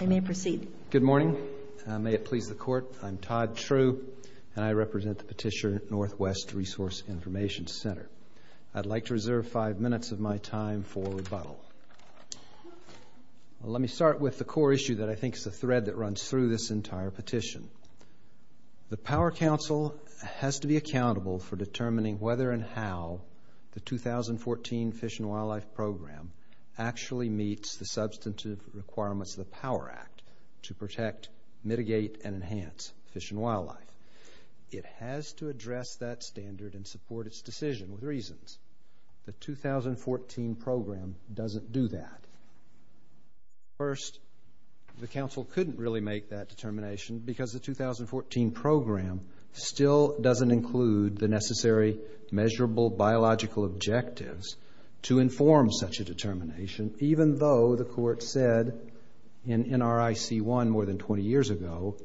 I may proceed. Good morning. May it please the Court, I'm Todd True and I represent the Petitioner Northwest Resource Information Center. I'd like to reserve five minutes of my time for rebuttal. Let me start with the core issue that I think is the thread that runs through this entire petition. The Power Council has to be accountable for determining whether and how the 2014 Fish and Wildlife Program actually meets the substantive requirements of the Power Act to protect, mitigate, and enhance fish and wildlife. It has to address that standard and support its decision with reasons. The 2014 program doesn't do that. First, the Council couldn't really make that determination because the 2014 program still doesn't include the necessary measurable biological objectives to inform such a determination, even though the Court said in NRIC 1 more than 20 years ago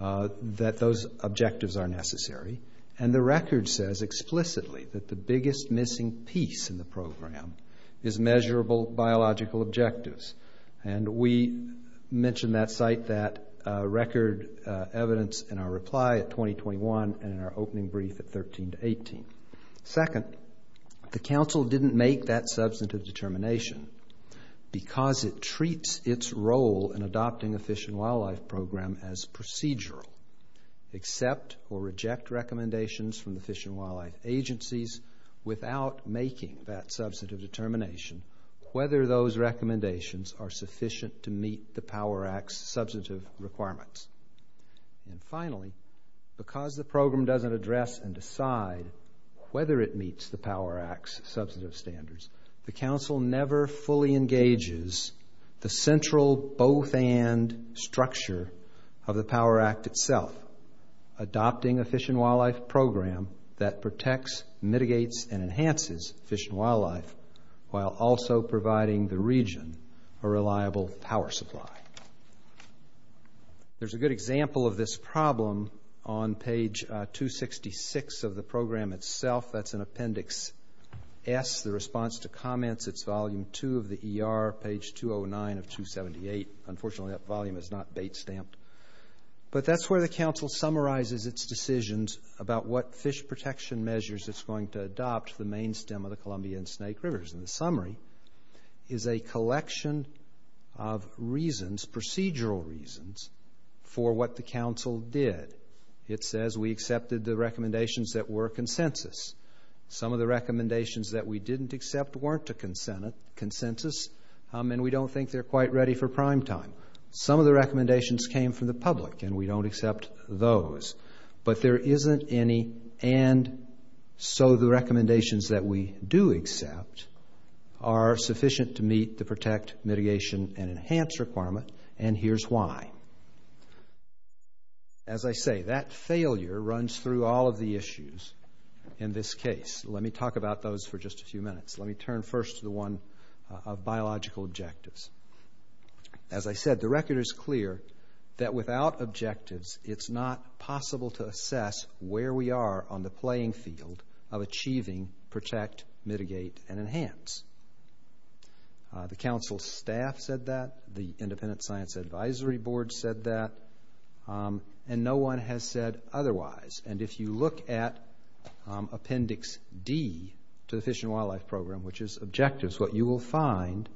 that those objectives are necessary. And the record says explicitly that the biggest missing piece in the program is measurable biological objectives. And we mention that site, that record evidence, in our reply at 2021 and in our opening brief at 13 to 18. Second, the Council didn't make that substantive determination because it treats its role in adopting a fish and wildlife program as procedural. Accept or reject recommendations from the fish and wildlife agencies without making that substantive determination whether those recommendations are sufficient to meet the Power Act's substantive requirements. And finally, because the program doesn't address and decide whether it meets the Power Act's substantive standards, the Council never fully engages the central both-and structure of the Power Act itself, adopting a fish and wildlife program that protects, mitigates, and enhances fish and wildlife while also providing the region a reliable power supply. There's a good example of this problem on page 266 of the program itself. That's in Appendix S, the response to comments. It's Volume 2 of the ER, page 209 of 278. Unfortunately, that volume is not bait-stamped. But that's where the Council summarizes its decisions about what fish protection measures it's going to adopt for the main stem of the Columbia and Snake Rivers. And the summary is a collection of reasons, procedural reasons, for what the Council did. It says we accepted the recommendations that were consensus. Some of the recommendations that we didn't accept weren't a consensus, and we don't think they're quite ready for prime time. Some of the recommendations came from the public, and we don't accept those. But there isn't any, and so the recommendations that we do accept are sufficient to meet the protect, mitigation, and enhance requirement, and here's why. As I say, that failure runs through all of the issues in this case. Let me talk about those for just a few minutes. Let me turn first to the one of biological objectives. As I said, the record is clear that without objectives, it's not possible to assess where we are on the playing field of achieving protect, mitigate, and enhance. The Council staff said that. The Independent Science Advisory Board said that. And no one has said otherwise. And if you look at Appendix D to the Fish and Wildlife Program, which is objectives, what you will find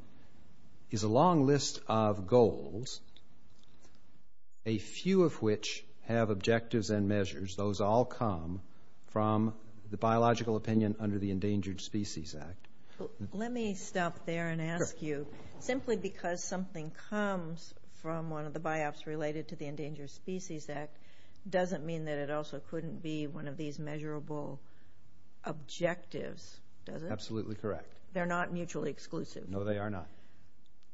is a long list of goals, a few of which have objectives and measures. Those all come from the biological opinion under the Endangered Species Act. Let me stop there and ask you, simply because something comes from one of the BIOPs related to the Endangered Species Act doesn't mean that it also couldn't be one of these measurable objectives, does it? Absolutely correct. They're not mutually exclusive. No, they are not.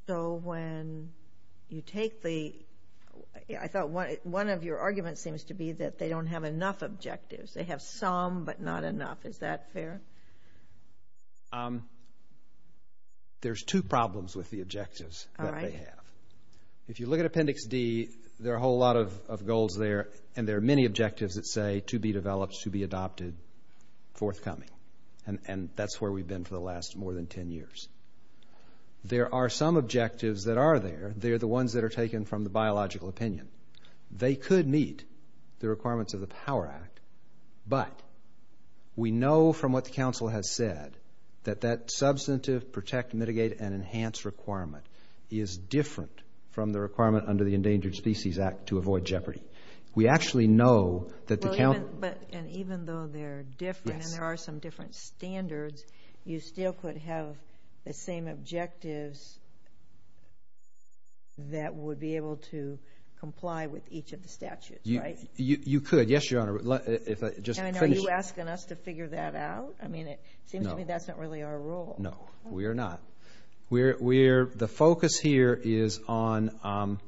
So when you take theóI thought one of your arguments seems to be that they don't have enough objectives. They have some, but not enough. Is that fair? There's two problems with the objectives that they have. If you look at Appendix D, there are a whole lot of goals there, and there are many objectives that say to be developed, to be adopted, forthcoming. And that's where we've been for the last more than ten years. There are some objectives that are there. They're the ones that are taken from the biological opinion. They could meet the requirements of the POWER Act, but we know from what the Council has said that that substantive protect, mitigate, and enhance requirement is different from the requirement under the Endangered Species Act to avoid jeopardy. We actually know that the Counciló you still could have the same objectives that would be able to comply with each of the statutes, right? You could, yes, Your Honor. And are you asking us to figure that out? I mean, it seems to me that's not really our role. No, we are not. The focus here is on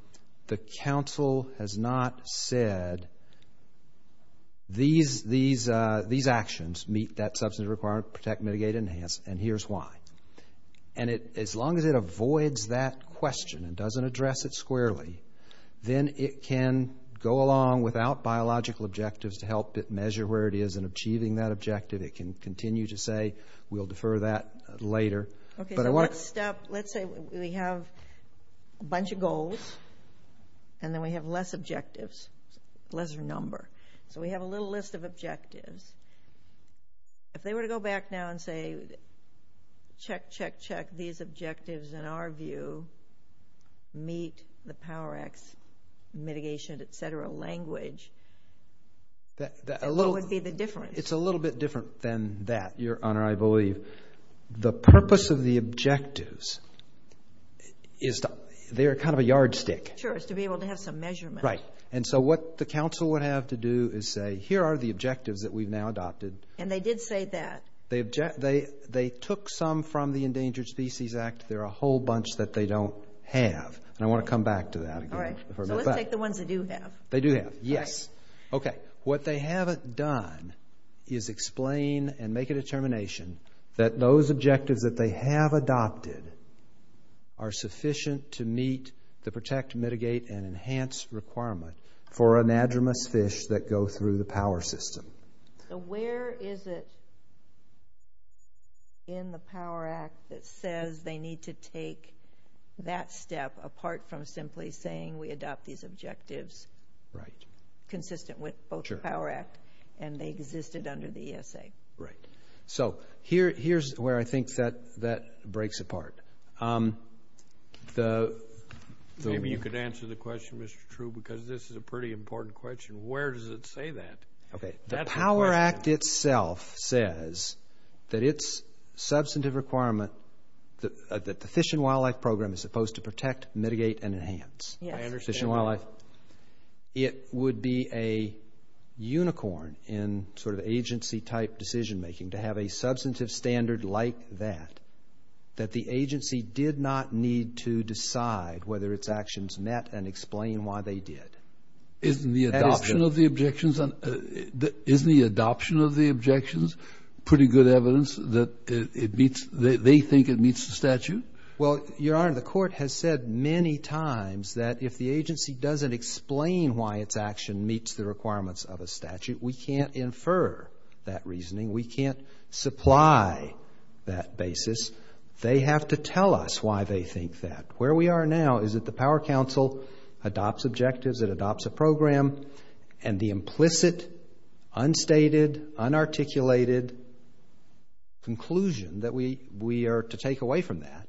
the Council has not said these actions meet that substantive requirement, protect, mitigate, and enhance, and here's why. And as long as it avoids that question and doesn't address it squarely, then it can go along without biological objectives to help it measure where it is in achieving that objective. It can continue to say, we'll defer that later. Okay, so let's say we have a bunch of goals and then we have less objectives, lesser number. So we have a little list of objectives. If they were to go back now and say, check, check, check, these objectives in our view meet the POWER Act's mitigation, et cetera, language, what would be the difference? It's a little bit different than that, Your Honor, I believe. The purpose of the objectives, they're kind of a yardstick. Sure, it's to be able to have some measurement. Right, and so what the Council would have to do is say, here are the objectives that we've now adopted. And they did say that. They took some from the Endangered Species Act. There are a whole bunch that they don't have, and I want to come back to that. All right, so let's take the ones they do have. They do have, yes. Okay, what they haven't done is explain and make a determination that those objectives that they have adopted are sufficient to meet the protect, mitigate, and enhance requirement for anadromous fish that go through the power system. So where is it in the POWER Act that says they need to take that step, apart from simply saying we adopt these objectives consistent with both the POWER Act, and they existed under the ESA? Right. So here's where I think that breaks apart. Maybe you could answer the question, Mr. True, because this is a pretty important question. Where does it say that? The POWER Act itself says that its substantive requirement, that the Fish and Wildlife Program is supposed to protect, mitigate, and enhance fish and wildlife. It would be a unicorn in sort of agency-type decision-making to have a substantive standard like that, that the agency did not need to decide whether its actions met and explain why they did. Isn't the adoption of the objections pretty good evidence that they think it meets the statute? Well, Your Honor, the court has said many times that if the agency doesn't explain why its action meets the requirements of a statute, we can't infer that reasoning. We can't supply that basis. They have to tell us why they think that. Where we are now is that the Power Council adopts objectives, it adopts a program, and the implicit, unstated, unarticulated conclusion that we are to take away from that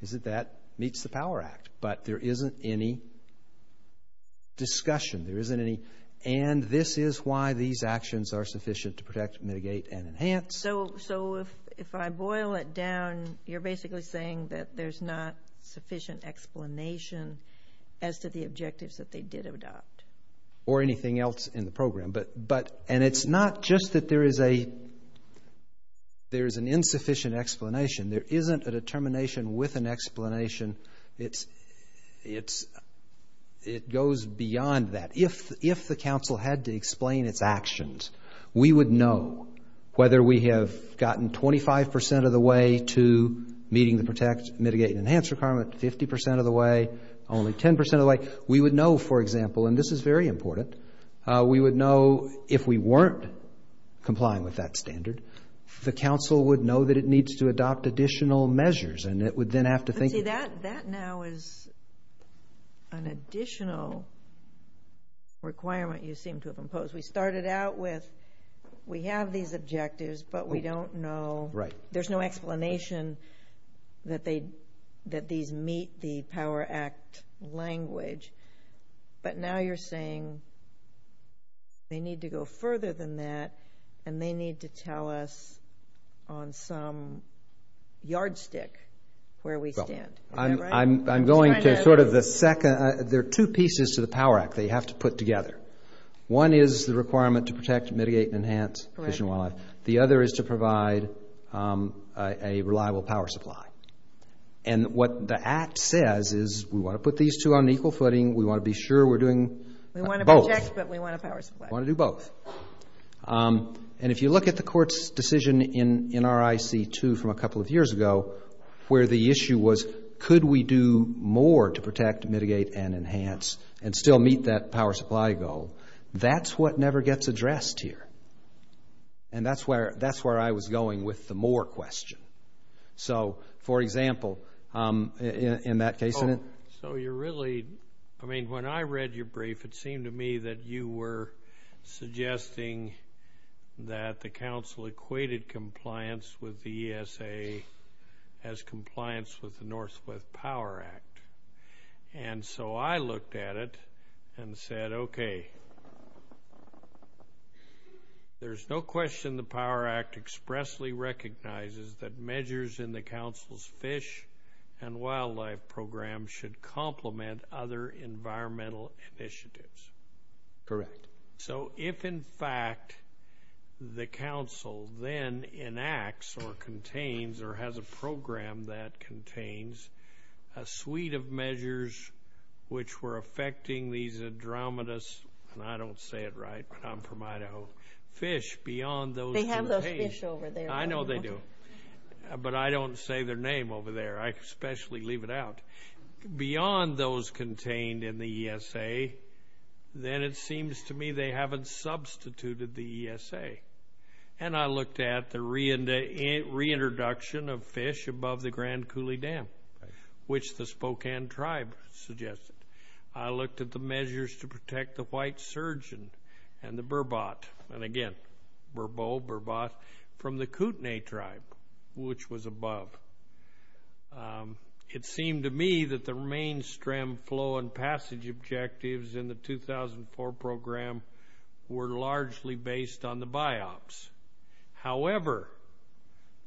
is that that meets the POWER Act, but there isn't any discussion. There isn't any, and this is why these actions are sufficient to protect, mitigate, and enhance. So if I boil it down, you're basically saying that there's not sufficient explanation as to the objectives that they did adopt. Or anything else in the program. And it's not just that there is an insufficient explanation. There isn't a determination with an explanation. It goes beyond that. If the counsel had to explain its actions, we would know whether we have gotten 25 percent of the way to meeting the protect, mitigate, and enhance requirement, 50 percent of the way, only 10 percent of the way. We would know, for example, and this is very important, we would know if we weren't complying with that standard, the counsel would know that it needs to adopt additional measures, and it would then have to think. But see, that now is an additional requirement you seem to have imposed. We started out with we have these objectives, but we don't know. There's no explanation that these meet the Power Act language. But now you're saying they need to go further than that, and they need to tell us on some yardstick where we stand. I'm going to sort of the second. There are two pieces to the Power Act that you have to put together. One is the requirement to protect, mitigate, and enhance fish and wildlife. The other is to provide a reliable power supply. And what the Act says is we want to put these two on equal footing. We want to be sure we're doing both. We want to protect, but we want a power supply. We want to do both. And if you look at the Court's decision in RIC-2 from a couple of years ago, where the issue was could we do more to protect, mitigate, and enhance, and still meet that power supply goal, that's what never gets addressed here. And that's where I was going with the more question. So, for example, in that case. So you're really, I mean, when I read your brief, it seemed to me that you were suggesting that the Council equated compliance with the ESA as compliance with the Northwest Power Act. And so I looked at it and said, okay, there's no question the Power Act expressly recognizes that measures in the Council's fish and wildlife program should complement other environmental initiatives. Correct. So if, in fact, the Council then enacts or contains or has a program that contains a suite of measures which were affecting these andromedous, and I don't say it right, but I'm from Idaho, fish beyond those contained. They have those fish over there. I know they do, but I don't say their name over there. I especially leave it out. Beyond those contained in the ESA, then it seems to me they haven't substituted the ESA. And I looked at the reintroduction of fish above the Grand Coulee Dam, which the Spokane tribe suggested. I looked at the measures to protect the white surgeon and the burbot, and again, burbo, burbot, from the Kootenai tribe, which was above. It seemed to me that the mainstream flow and passage objectives in the 2004 program were largely based on the BIOPS. However,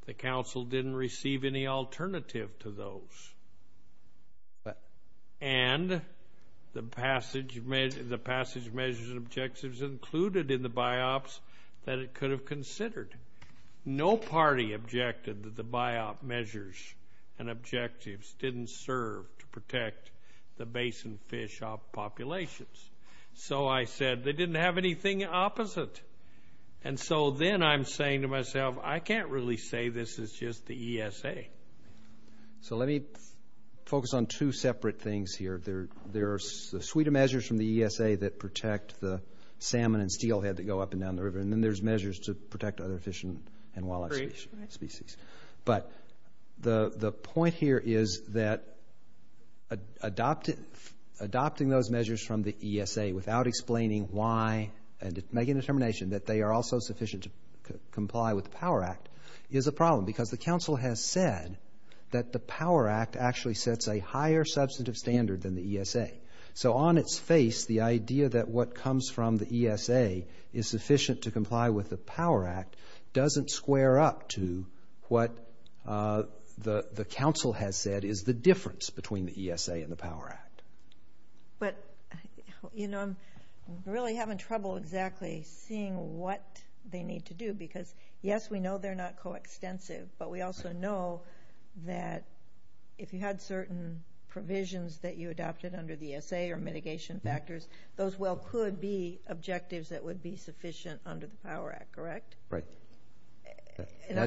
the Council didn't receive any alternative to those, and the passage measures and objectives included in the BIOPS that it could have considered. No party objected that the BIOPS measures and objectives didn't serve to protect the basin fish populations. So I said, they didn't have anything opposite. And so then I'm saying to myself, I can't really say this is just the ESA. So let me focus on two separate things here. There are a suite of measures from the ESA that protect the salmon and steelhead that go up and down the river, and then there's measures to protect other fish and wildlife species. But the point here is that adopting those measures from the ESA without explaining why and making a determination that they are also sufficient to comply with the POWER Act is a problem because the Council has said that the POWER Act actually sets a higher substantive standard than the ESA. So on its face, the idea that what comes from the ESA is sufficient to comply with the POWER Act doesn't square up to what the Council has said is the difference between the ESA and the POWER Act. But, you know, I'm really having trouble exactly seeing what they need to do because, yes, we know they're not coextensive, but we also know that if you had certain provisions that you adopted under the ESA or mitigation factors, those well could be objectives that would be sufficient under the POWER Act, correct? Right. And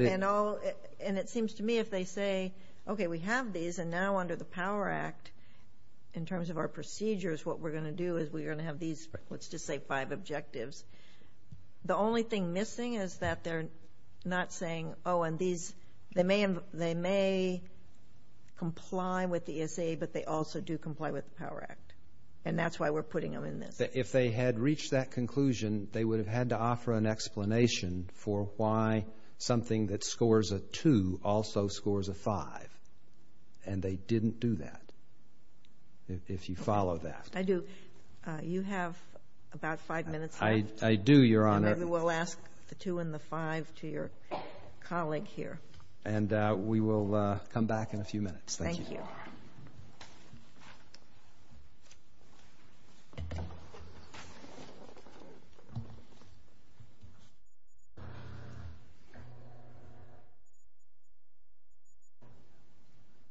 it seems to me if they say, okay, we have these and now under the POWER Act, in terms of our procedures, what we're going to do is we're going to have these, let's just say, five objectives, the only thing missing is that they're not saying, oh, and they may comply with the ESA, but they also do comply with the POWER Act. And that's why we're putting them in this. If they had reached that conclusion, they would have had to offer an explanation for why something that scores a 2 also scores a 5, and they didn't do that, if you follow that. I do. You have about five minutes left. I do, Your Honor. Maybe we'll ask the 2 and the 5 to your colleague here. And we will come back in a few minutes. Thank you. Thank you. Thank you.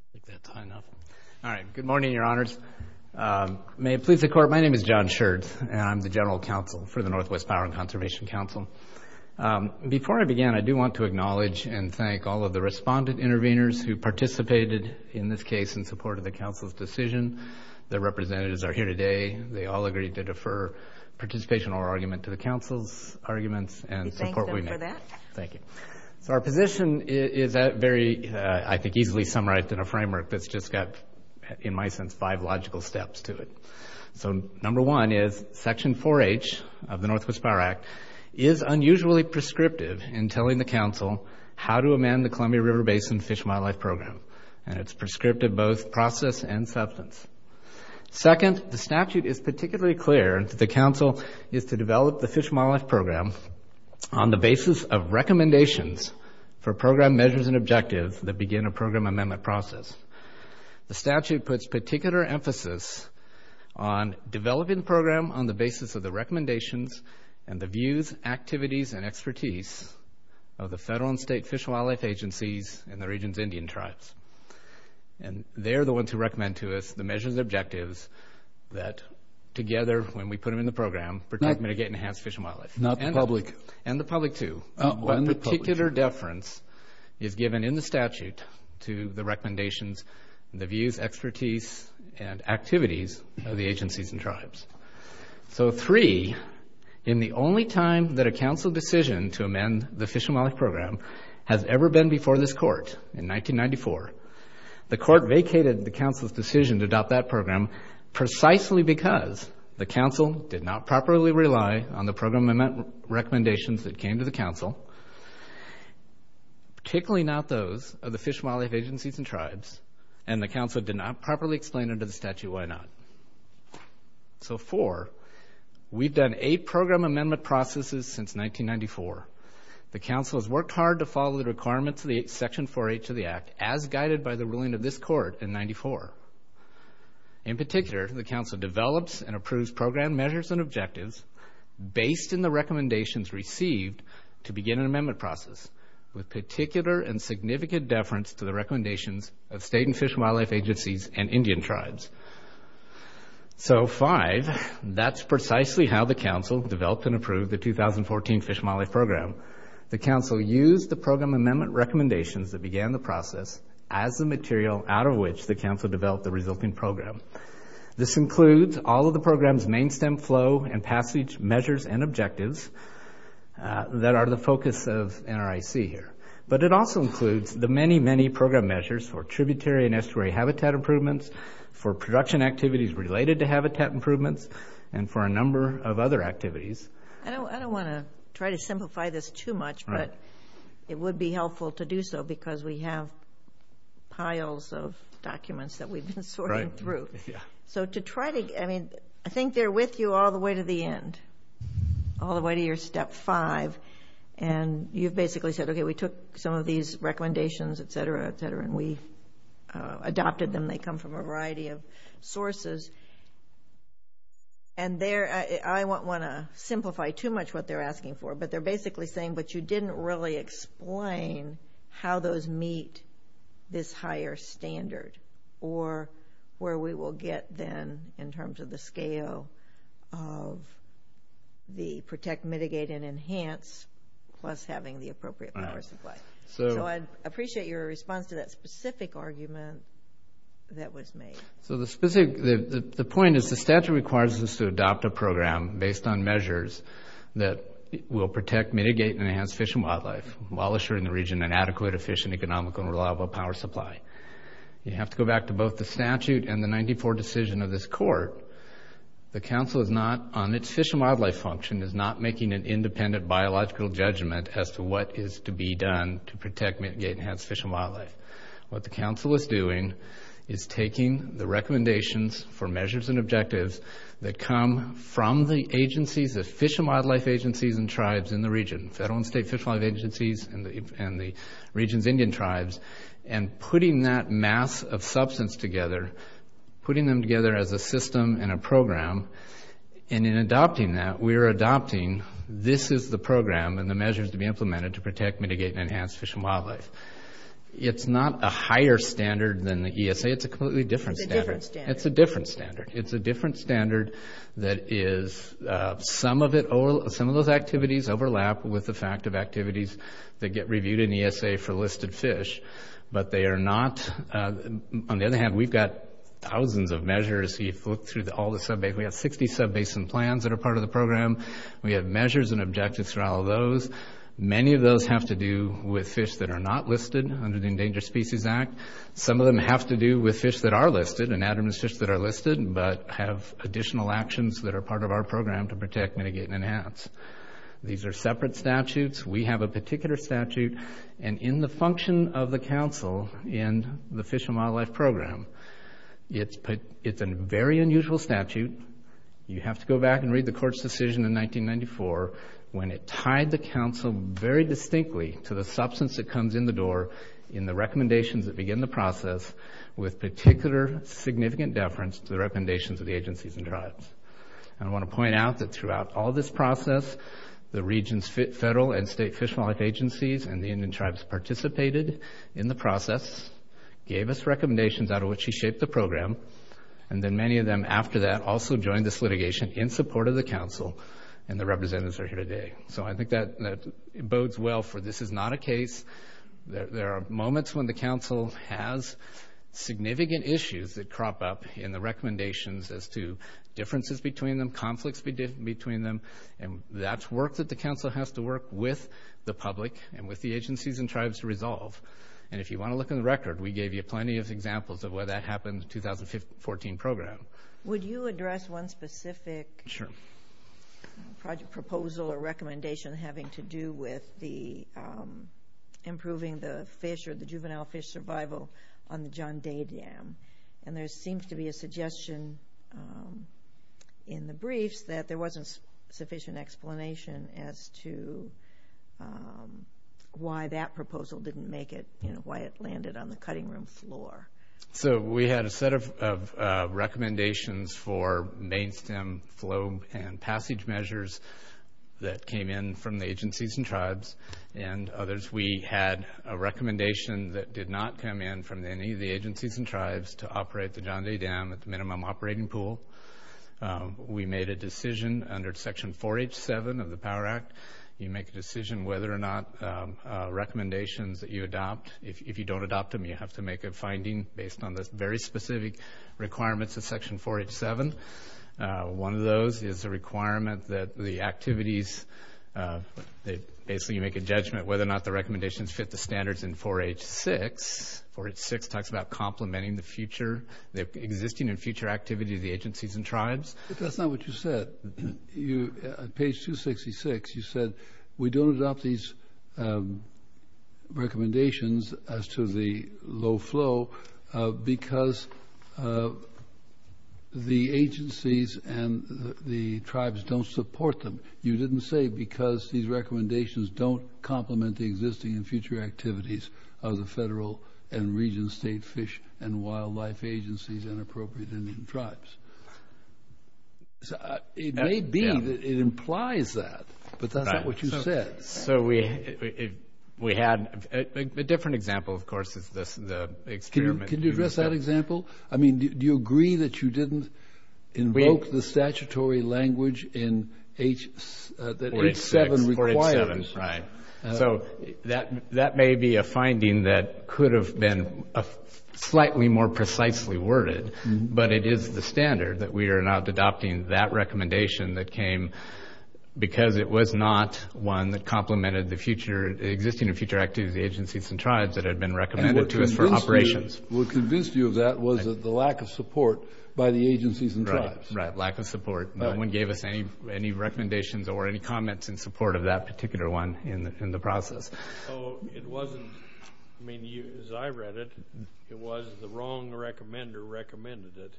I think that's high enough. All right. Good morning, Your Honors. May it please the Court, my name is John Schertz, and I'm the General Counsel for the Northwest Power and Conservation Council. Before I begin, I do want to acknowledge and thank all of the respondent interveners who participated in this case in support of the Council's decision, the representatives are here today, they all agreed to defer participation or argument to the Council's arguments. We thank them for that. Thank you. So our position is very, I think, easily summarized in a framework that's just got, in my sense, five logical steps to it. So number one is Section 4H of the Northwest Power Act is unusually prescriptive in telling the Council how to amend the Columbia River Basin Fish and Wildlife Program, and it's prescriptive both process and substance. Second, the statute is particularly clear that the Council is to develop the Fish and Wildlife Program on the basis of recommendations for program measures and objectives that begin a program amendment process. The statute puts particular emphasis on developing the program on the basis of the recommendations and the views, activities, and expertise of the federal and state fish and wildlife agencies and the region's Indian tribes. And they're the ones who recommend to us the measures and objectives that, together, when we put them in the program, protect, mitigate, and enhance fish and wildlife. Not the public. And the public, too. One particular deference is given in the statute to the recommendations, the views, expertise, and activities of the agencies and tribes. So three, in the only time that a Council decision to amend the Fish and Wildlife Program has ever been before this Court, in 1994, the Court vacated the Council's decision to adopt that program precisely because the Council did not properly rely on the program recommendations that came to the Council, particularly not those of the Fish and Wildlife Agencies and Tribes, and the Council did not properly explain under the statute why not. So four, we've done eight program amendment processes since 1994. The Council has worked hard to follow the requirements of Section 4H of the Act, as guided by the ruling of this Court in 1994. In particular, the Council develops and approves program measures and objectives based on the recommendations received to begin an amendment process, with particular and significant deference to the recommendations of state and fish and wildlife agencies and Indian tribes. So five, that's precisely how the Council developed and approved the 2014 Fish and Wildlife Program. The Council used the program amendment recommendations that began the process as the material out of which the Council developed the resulting program. This includes all of the program's main stem flow and passage measures and objectives that are the focus of NRIC here. But it also includes the many, many program measures for tributary and estuary habitat improvements, for production activities related to habitat improvements, and for a number of other activities. I don't want to try to simplify this too much, but it would be helpful to do so because we have piles of documents that we've been sorting through. So to try to... I mean, I think they're with you all the way to the end, all the way to your Step 5. And you've basically said, okay, we took some of these recommendations, etc., etc., and we adopted them. They come from a variety of sources. And there... I don't want to simplify too much what they're asking for, but they're basically saying, but you didn't really explain how those meet this higher standard or where we will get then in terms of the scale of the protect, mitigate, and enhance plus having the appropriate power supply. So I'd appreciate your response to that specific argument that was made. So the point is the statute requires us to adopt a program based on measures that will protect, mitigate, and enhance fish and wildlife while assuring the region an adequate, efficient, economical, and reliable power supply. You have to go back to both the statute and the 94 decision of this court. The council is not... on its fish and wildlife function, is not making an independent biological judgment as to what is to be done to protect, mitigate, and enhance fish and wildlife. What the council is doing is taking the recommendations for measures and objectives that come from the agencies, the fish and wildlife agencies and tribes in the region, federal and state fish and wildlife agencies and the region's Indian tribes, and putting that mass of substance together, putting them together as a system and a program. And in adopting that, we are adopting this is the program and the measures to be implemented to protect, mitigate, and enhance fish and wildlife. It's not a higher standard than the ESA. It's a completely different standard. It's a different standard. It's a different standard. It's a different standard that is... some of those activities overlap with the fact of activities that get reviewed in ESA for listed fish, but they are not... On the other hand, we've got thousands of measures. If you look through all the sub-basins, we have 60 sub-basin plans that are part of the program. We have measures and objectives for all of those. Many of those have to do with fish that are not listed under the Endangered Species Act. Some of them have to do with fish that are listed, and Adamance fish that are listed, but have additional actions that are part of our program to protect, mitigate, and enhance. These are separate statutes. We have a particular statute, and in the function of the council in the Fish and Wildlife Program, it's a very unusual statute. You have to go back and read the court's decision in 1994 when it tied the council very distinctly to the substance that comes in the door in the recommendations that begin the process with particular significant deference to the recommendations of the agencies and tribes. And I want to point out that throughout all this process, the region's federal and state fish and wildlife agencies and the Indian tribes participated in the process, gave us recommendations out of which he shaped the program, and then many of them after that also joined this litigation in support of the council and the representatives that are here today. So I think that it bodes well for this is not a case. There are moments when the council has significant issues that crop up in the recommendations as to differences between them, conflicts between them, and that's work that the council has to work with the public and with the agencies and tribes to resolve. And if you want to look in the record, we gave you plenty of examples of where that happened in the 2014 program. Would you address one specific... Sure. ...project proposal or recommendation having to do with the improving the fish or the juvenile fish survival on the John Day Dam? And there seems to be a suggestion in the briefs that there wasn't sufficient explanation as to why that proposal didn't make it, you know, why it landed on the cutting room floor. So we had a set of recommendations for main stem flow and passage measures that came in from the agencies and tribes and others. We had a recommendation that did not come in from any of the agencies and tribes to operate the John Day Dam at the minimum operating pool. We made a decision under Section 4H7 of the POWER Act. You make a decision whether or not recommendations that you adopt. If you don't adopt them, you have to make a finding based on the very specific requirements of Section 4H7. One of those is a requirement that the activities... Basically, you make a judgment whether or not the recommendations fit the standards in 4H6. 4H6 talks about complementing the future... the existing and future activity of the agencies and tribes. But that's not what you said. You... On page 266, you said, we don't adopt these recommendations as to the low flow because the agencies and the tribes don't support them. You didn't say because these recommendations don't complement the existing and future activities of the federal and region state fish and wildlife agencies and appropriate Indian tribes. It may be that it implies that, but that's not what you said. So we had... A different example, of course, is the experiment... Can you address that example? I mean, do you agree that you didn't invoke the statutory language in H... that H7 requires? 4H7, right. So that may be a finding that could have been slightly more precisely worded, but it is the standard that we are not adopting that recommendation that came because it was not one that complemented the future... existing and future activities of the agencies and tribes that had been recommended to us for operations. What convinced you of that was the lack of support by the agencies and tribes. Right, lack of support. No one gave us any recommendations or any comments in support of that particular one in the process. So it wasn't... I mean, as I read it, it was the wrong recommender recommended it,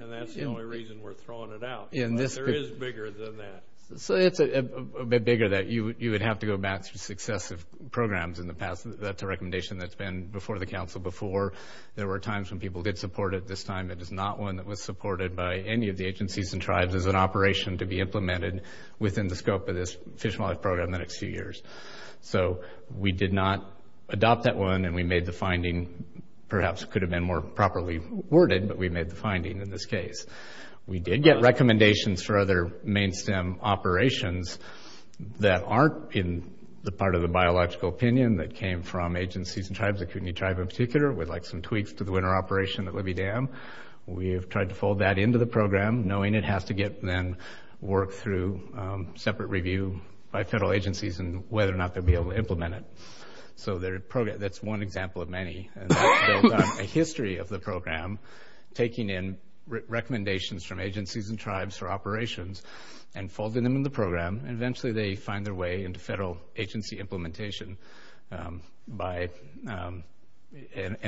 and that's the only reason we're throwing it out. There is bigger than that. So it's a bit bigger that you would have to go back through successive programs in the past. That's a recommendation that's been before the council before. There were times when people did support it. This time, it is not one that was supported by any of the agencies and tribes as an operation to be implemented within the scope of this Fish and Wildlife Program in the next few years. So we did not adopt that one, and we made the finding, perhaps could have been more properly worded, but we made the finding in this case. We did get recommendations for other main stem operations that aren't in the part of the biological opinion that came from agencies and tribes, the Kootenai tribe in particular, with, like, some tweaks to the winter operation at Libby Dam. We have tried to fold that into the program, knowing it has to get, then, worked through separate review by federal agencies and whether or not they'll be able to implement it. So that's one example of many. A history of the program taking in recommendations from agencies and tribes for operations and folding them into the program, and eventually they find their way into federal agency implementation. And,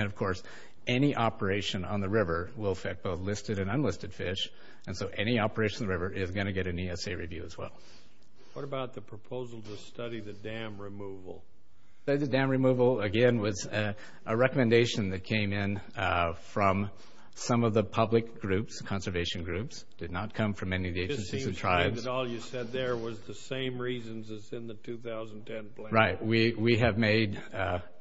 of course, any operation on the river will affect both listed and unlisted fish, and so any operation on the river is going to get an ESA review as well. What about the proposal to study the dam removal? The dam removal, again, was a recommendation that came in from some of the public groups, conservation groups. It did not come from any of the agencies and tribes. It seems to me that all you said there was the same reasons as in the 2010 plan. Right. We have made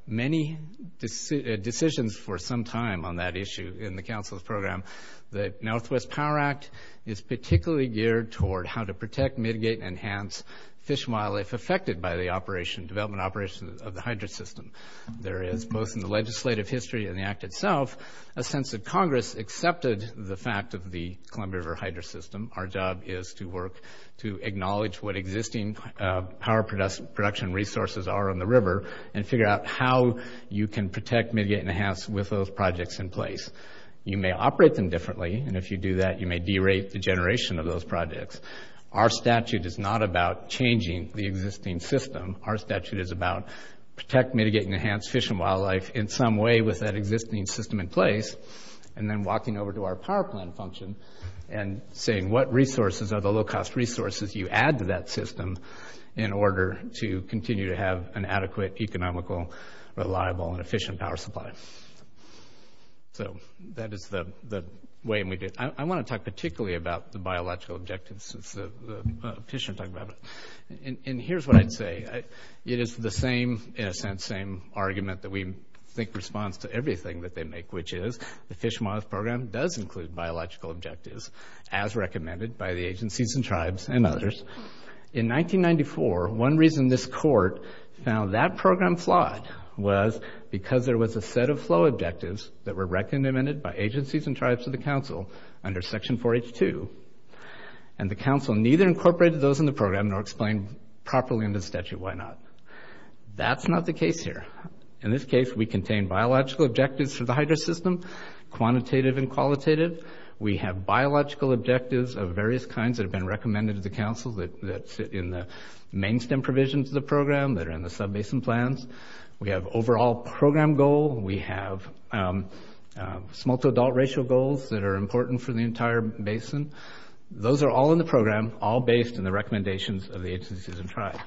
many decisions for some time on that issue in the council's program. The Northwest Power Act is particularly geared toward how to protect, mitigate, and enhance fish while it's affected by the development and operation of the hydro system. There is, both in the legislative history and the act itself, a sense that Congress accepted the fact of the Columbia River hydro system. Our job is to work to acknowledge what existing power production resources are on the river and figure out how you can protect, mitigate, and enhance with those projects in place. You may operate them differently, and if you do that, you may derate the generation of those projects. Our statute is not about changing the existing system. Our statute is about protect, mitigate, and enhance fish and wildlife in some way with that existing system in place and then walking over to our power plant function and saying what resources are the low-cost resources you add to that system in order to continue to have an adequate, economical, reliable, and efficient power supply. So that is the way we did it. I want to talk particularly about the biological objectives since the fish are talking about it. And here's what I'd say. It is the same, in a sense, same argument that we think responds to everything that they make, which is the Fish and Wildlife Program does include biological objectives as recommended by the agencies and tribes and others. In 1994, one reason this court found that program flawed was because there was a set of flow objectives that were recommended by agencies and tribes of the council under Section 4H2, and the council neither incorporated those in the program nor explained properly in the statute why not. That's not the case here. In this case, we contain biological objectives for the hydro system, quantitative and qualitative. We have biological objectives of various kinds that have been recommended to the council that sit in the main stem provisions of the program that are in the sub-basin plans. We have overall program goal. We have small-to-adult racial goals that are important for the entire basin. Those are all in the program, all based on the recommendations of the agencies and tribes.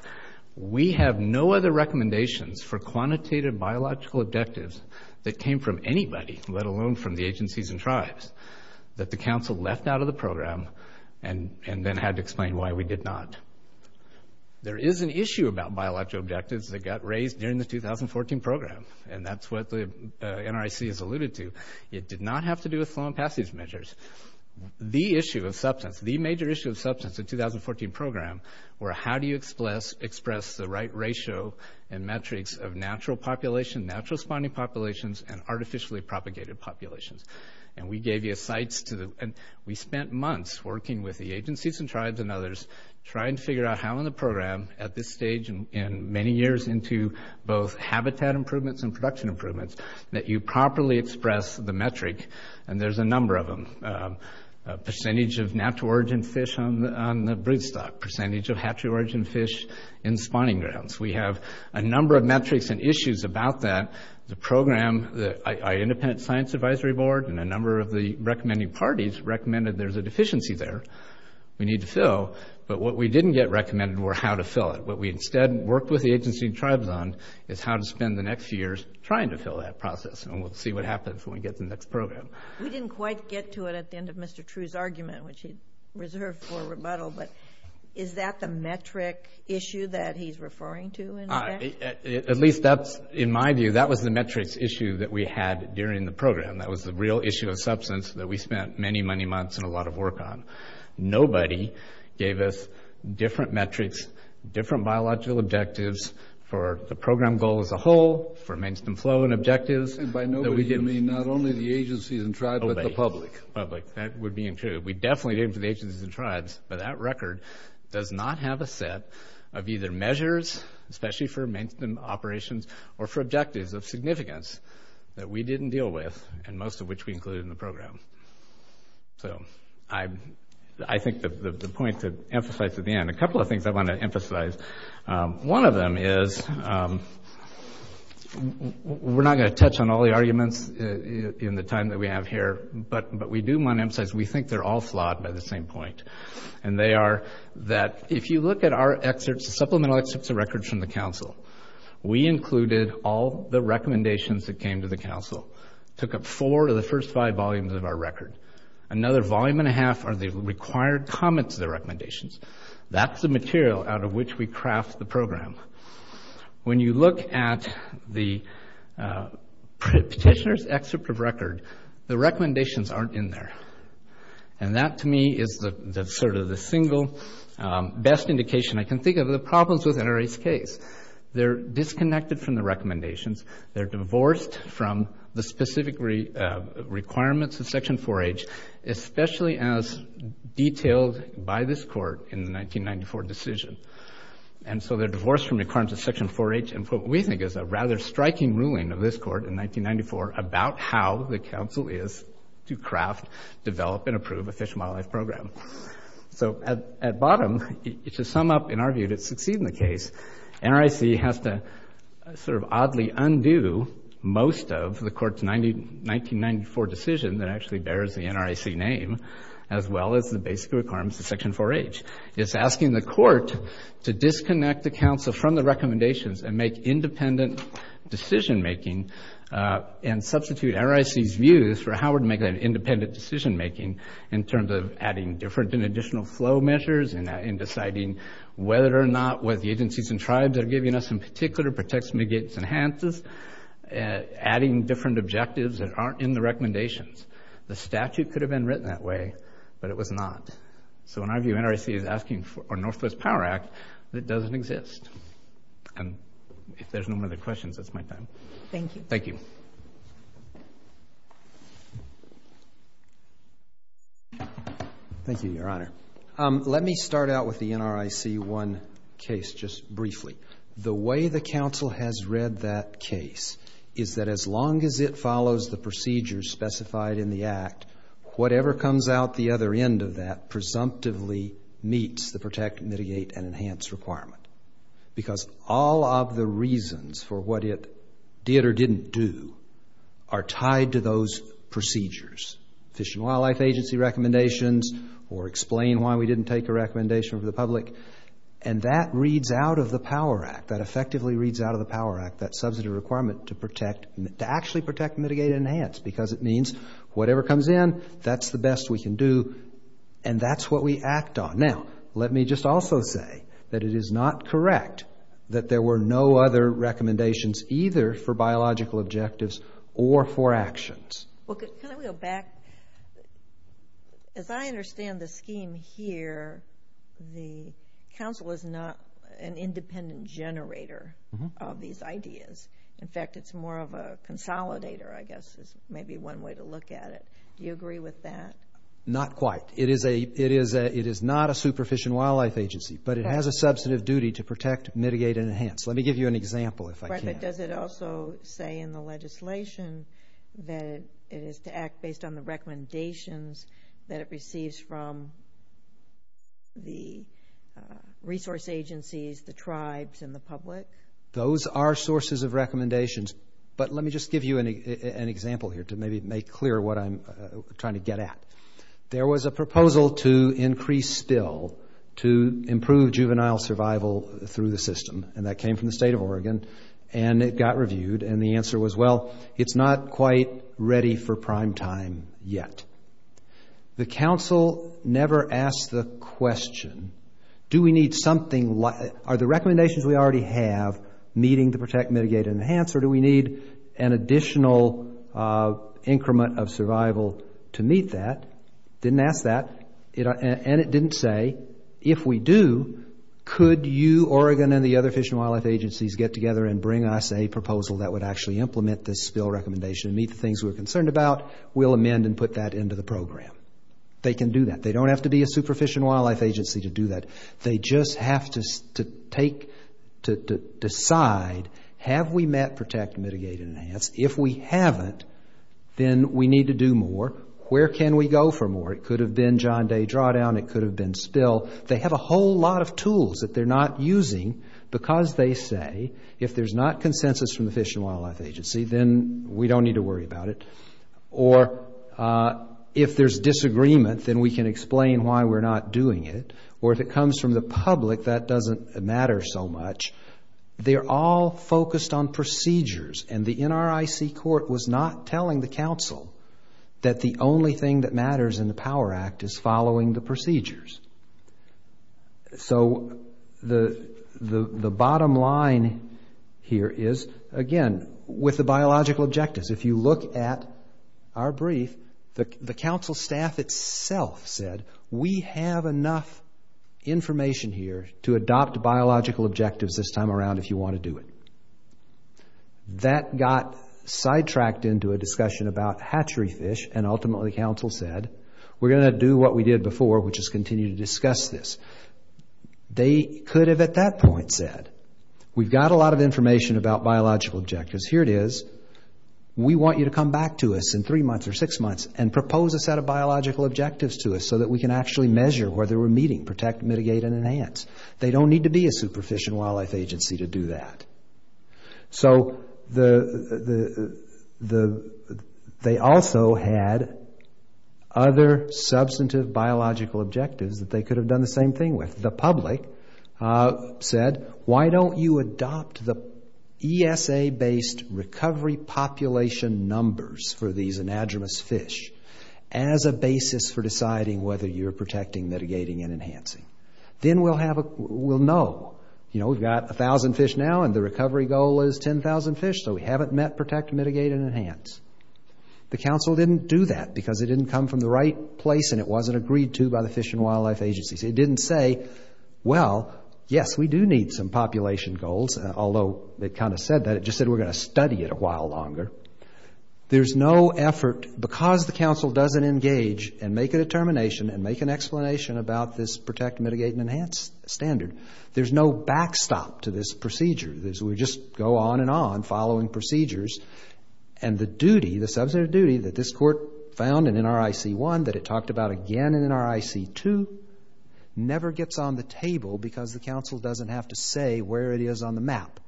We have no other recommendations for quantitative biological objectives that came from anybody, let alone from the agencies and tribes, that the council left out of the program and then had to explain why we did not. There is an issue about biological objectives that got raised during the 2014 program, and that's what the NRIC has alluded to. It did not have to do with flow and passage measures. The issue of substance, the major issue of substance in the 2014 program were how do you express the right ratio and metrics of natural population, natural spawning populations, and artificially propagated populations. And we gave you a sites to the... We spent months working with the agencies and tribes and others trying to figure out how in the program at this stage and many years into both habitat improvements and production improvements, that you properly express the metric, and there's a number of them. Percentage of natural origin fish on the broodstock, percentage of hatchery origin fish in spawning grounds. We have a number of metrics and issues about that. The program, the Independent Science Advisory Board and a number of the recommending parties recommended there's a deficiency there we need to fill, but what we didn't get recommended were how to fill it. What we instead worked with the agency and tribes on is how to spend the next few years trying to fill that process, and we'll see what happens when we get to the next program. We didn't quite get to it at the end of Mr. True's argument, which he reserved for rebuttal, but is that the metric issue that he's referring to in effect? At least that's... In my view, that was the metrics issue that we had during the program. That was the real issue of substance that we spent many, many months and a lot of work on. Nobody gave us different metrics, different biological objectives for the program goal as a whole, for maintenance and flow and objectives. And by nobody you mean not only the agencies and tribes, but the public. Public, that would be true. We definitely did it for the agencies and tribes, but that record does not have a set of either measures, especially for maintenance and operations, or for objectives of significance that we didn't deal with, and most of which we included in the program. So I think the point to emphasize at the end, a couple of things I want to emphasize. One of them is we're not going to touch on all the arguments in the time that we have here, but we do want to emphasize we think they're all flawed by the same point. And they are that if you look at our excerpts, the supplemental excerpts of records from the council, we included all the recommendations that came to the council. Took up four of the first five volumes of our record. Another volume and a half are the required comments of the recommendations. That's the material out of which we craft the program. When you look at the petitioner's excerpt of record, the recommendations aren't in there. And that to me is sort of the single best indication I can think of. The problems with NRA's case, they're disconnected from the recommendations, they're divorced from the specific requirements of Section 4H, especially as detailed by this court in the 1994 decision. And so they're divorced from the requirements of Section 4H and what we think is a rather striking ruling of this court in 1994 about how the council is to craft, develop, and approve a Fish and Wildlife Program. So at bottom, to sum up, in our view, to succeed in the case, NRAC has to sort of oddly undo most of the court's 1994 decision that actually bears the NRAC name as well as the basic requirements of Section 4H. It's asking the court to disconnect the council from the recommendations and make independent decision-making and substitute NRAC's views for how we're going to make that independent decision-making in terms of adding different and additional flow measures in deciding whether or not what the agencies and tribes are giving us in particular protects, negates, enhances, adding different objectives that aren't in the recommendations. The statute could have been written that way, but it was not. So in our view, NRAC is asking for a Northwest Power Act that doesn't exist. And if there's no more other questions, that's my time. Thank you. Thank you. Thank you, Your Honor. Let me start out with the NRAC one case just briefly. The way the council has read that case is that as long as it follows the procedures specified in the Act, whatever comes out the other end of that presumptively meets the protect, mitigate, and enhance requirement because all of the reasons for what it did or didn't do are tied to those procedures. Fish and Wildlife Agency recommendations or explain why we didn't take a recommendation from the public. And that reads out of the Power Act. That effectively reads out of the Power Act, that substantive requirement to actually protect, mitigate, and enhance because it means whatever comes in, that's the best we can do, and that's what we act on. Now, let me just also say that it is not correct that there were no other recommendations either for biological objectives or for actions. Well, can I go back? As I understand the scheme here, the council is not an independent generator of these ideas. In fact, it's more of a consolidator, I guess, is maybe one way to look at it. Do you agree with that? Not quite. It is not a super fish and wildlife agency, but it has a substantive duty to protect, mitigate, and enhance. Let me give you an example if I can. Does it also say in the legislation that it is to act based on the recommendations that it receives from the resource agencies, the tribes, and the public? Those are sources of recommendations. But let me just give you an example here to maybe make clear what I'm trying to get at. There was a proposal to increase spill to improve juvenile survival through the system, and that came from the state of Oregon, and it got reviewed, and the answer was, well, it's not quite ready for prime time yet. The council never asked the question, do we need something like, are the recommendations we already have, meeting the protect, mitigate, and enhance, or do we need an additional increment of survival to meet that? It didn't ask that, and it didn't say, if we do, could you, Oregon, and the other fish and wildlife agencies get together and bring us a proposal that would actually implement this spill recommendation and meet the things we're concerned about? We'll amend and put that into the program. They can do that. They don't have to be a super fish and wildlife agency to do that. They just have to decide, have we met protect, mitigate, and enhance? If we haven't, then we need to do more. Where can we go for more? It could have been John Day Drawdown. It could have been spill. They have a whole lot of tools that they're not using because they say, if there's not consensus from the fish and wildlife agency, then we don't need to worry about it, or if there's disagreement, then we can explain why we're not doing it, or if it comes from the public, that doesn't matter so much. They're all focused on procedures, and the NRIC court was not telling the council that the only thing that matters in the POWER Act is following the procedures. So the bottom line here is, again, with the biological objectives. If you look at our brief, the council staff itself said, we have enough information here to adopt biological objectives this time around if you want to do it. That got sidetracked into a discussion about hatchery fish, and ultimately the council said, we're going to do what we did before, which is continue to discuss this. They could have at that point said, we've got a lot of information about biological objectives. Here it is. We want you to come back to us in three months or six months and propose a set of biological objectives to us so that we can actually measure where they were meeting, protect, mitigate, and enhance. They don't need to be a superficial wildlife agency to do that. So they also had other substantive biological objectives that they could have done the same thing with. The public said, why don't you adopt the ESA-based recovery population numbers for these anadromous fish as a basis for deciding whether you're protecting, mitigating, and enhancing. Then we'll know. You know, we've got 1,000 fish now, and the recovery goal is 10,000 fish, so we haven't met protect, mitigate, and enhance. The council didn't do that because it didn't come from the right place and it wasn't agreed to by the fish and wildlife agencies. It didn't say, well, yes, we do need some population goals, although it kind of said that. It just said we're going to study it a while longer. There's no effort, because the council doesn't engage and make a determination and make an explanation about this protect, mitigate, and enhance standard. There's no backstop to this procedure. We just go on and on following procedures, and the duty, the substantive duty, that this Court found in NRIC 1 that it talked about again in NRIC 2 never gets on the table because the council doesn't have to say where it is on the map.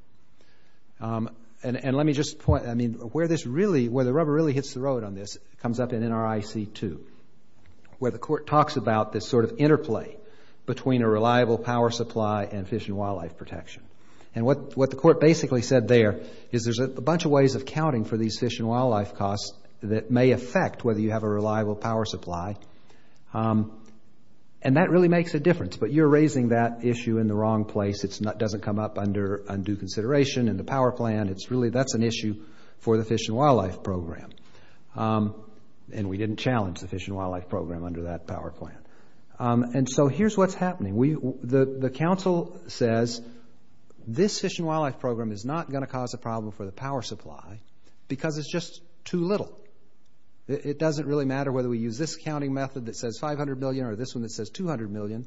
And let me just point... I mean, where the rubber really hits the road on this comes up in NRIC 2, where the Court talks about this sort of interplay between a reliable power supply and fish and wildlife protection. And what the Court basically said there is there's a bunch of ways of counting for these fish and wildlife costs that may affect whether you have a reliable power supply. And that really makes a difference, but you're raising that issue in the wrong place. It doesn't come up under undue consideration in the power plan. It's really that's an issue for the fish and wildlife program. And we didn't challenge the fish and wildlife program under that power plan. And so here's what's happening. The council says, this fish and wildlife program is not going to cause a problem for the power supply because it's just too little. It doesn't really matter whether we use this counting method that says $500 million or this one that says $200 million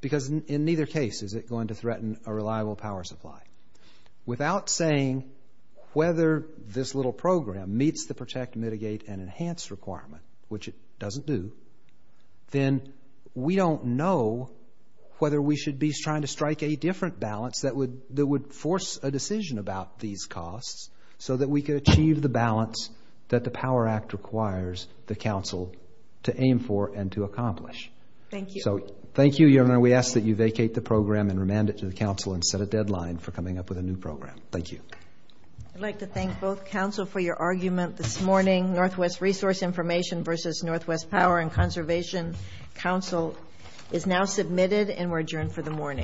because in neither case is it going to threaten a reliable power supply. Without saying whether this little program meets the protect, mitigate, and enhance requirement, which it doesn't do, then we don't know whether we should be trying to strike a different balance that would force a decision about these costs so that we could achieve the balance that the Power Act requires the council to aim for and to accomplish. Thank you. So thank you, Your Honor. We ask that you vacate the program and remand it to the council and set a deadline for coming up with a new program. Thank you. I'd like to thank both council for your argument this morning. Northwest Resource Information versus Northwest Power and Conservation Council is now submitted and we're adjourned for the morning.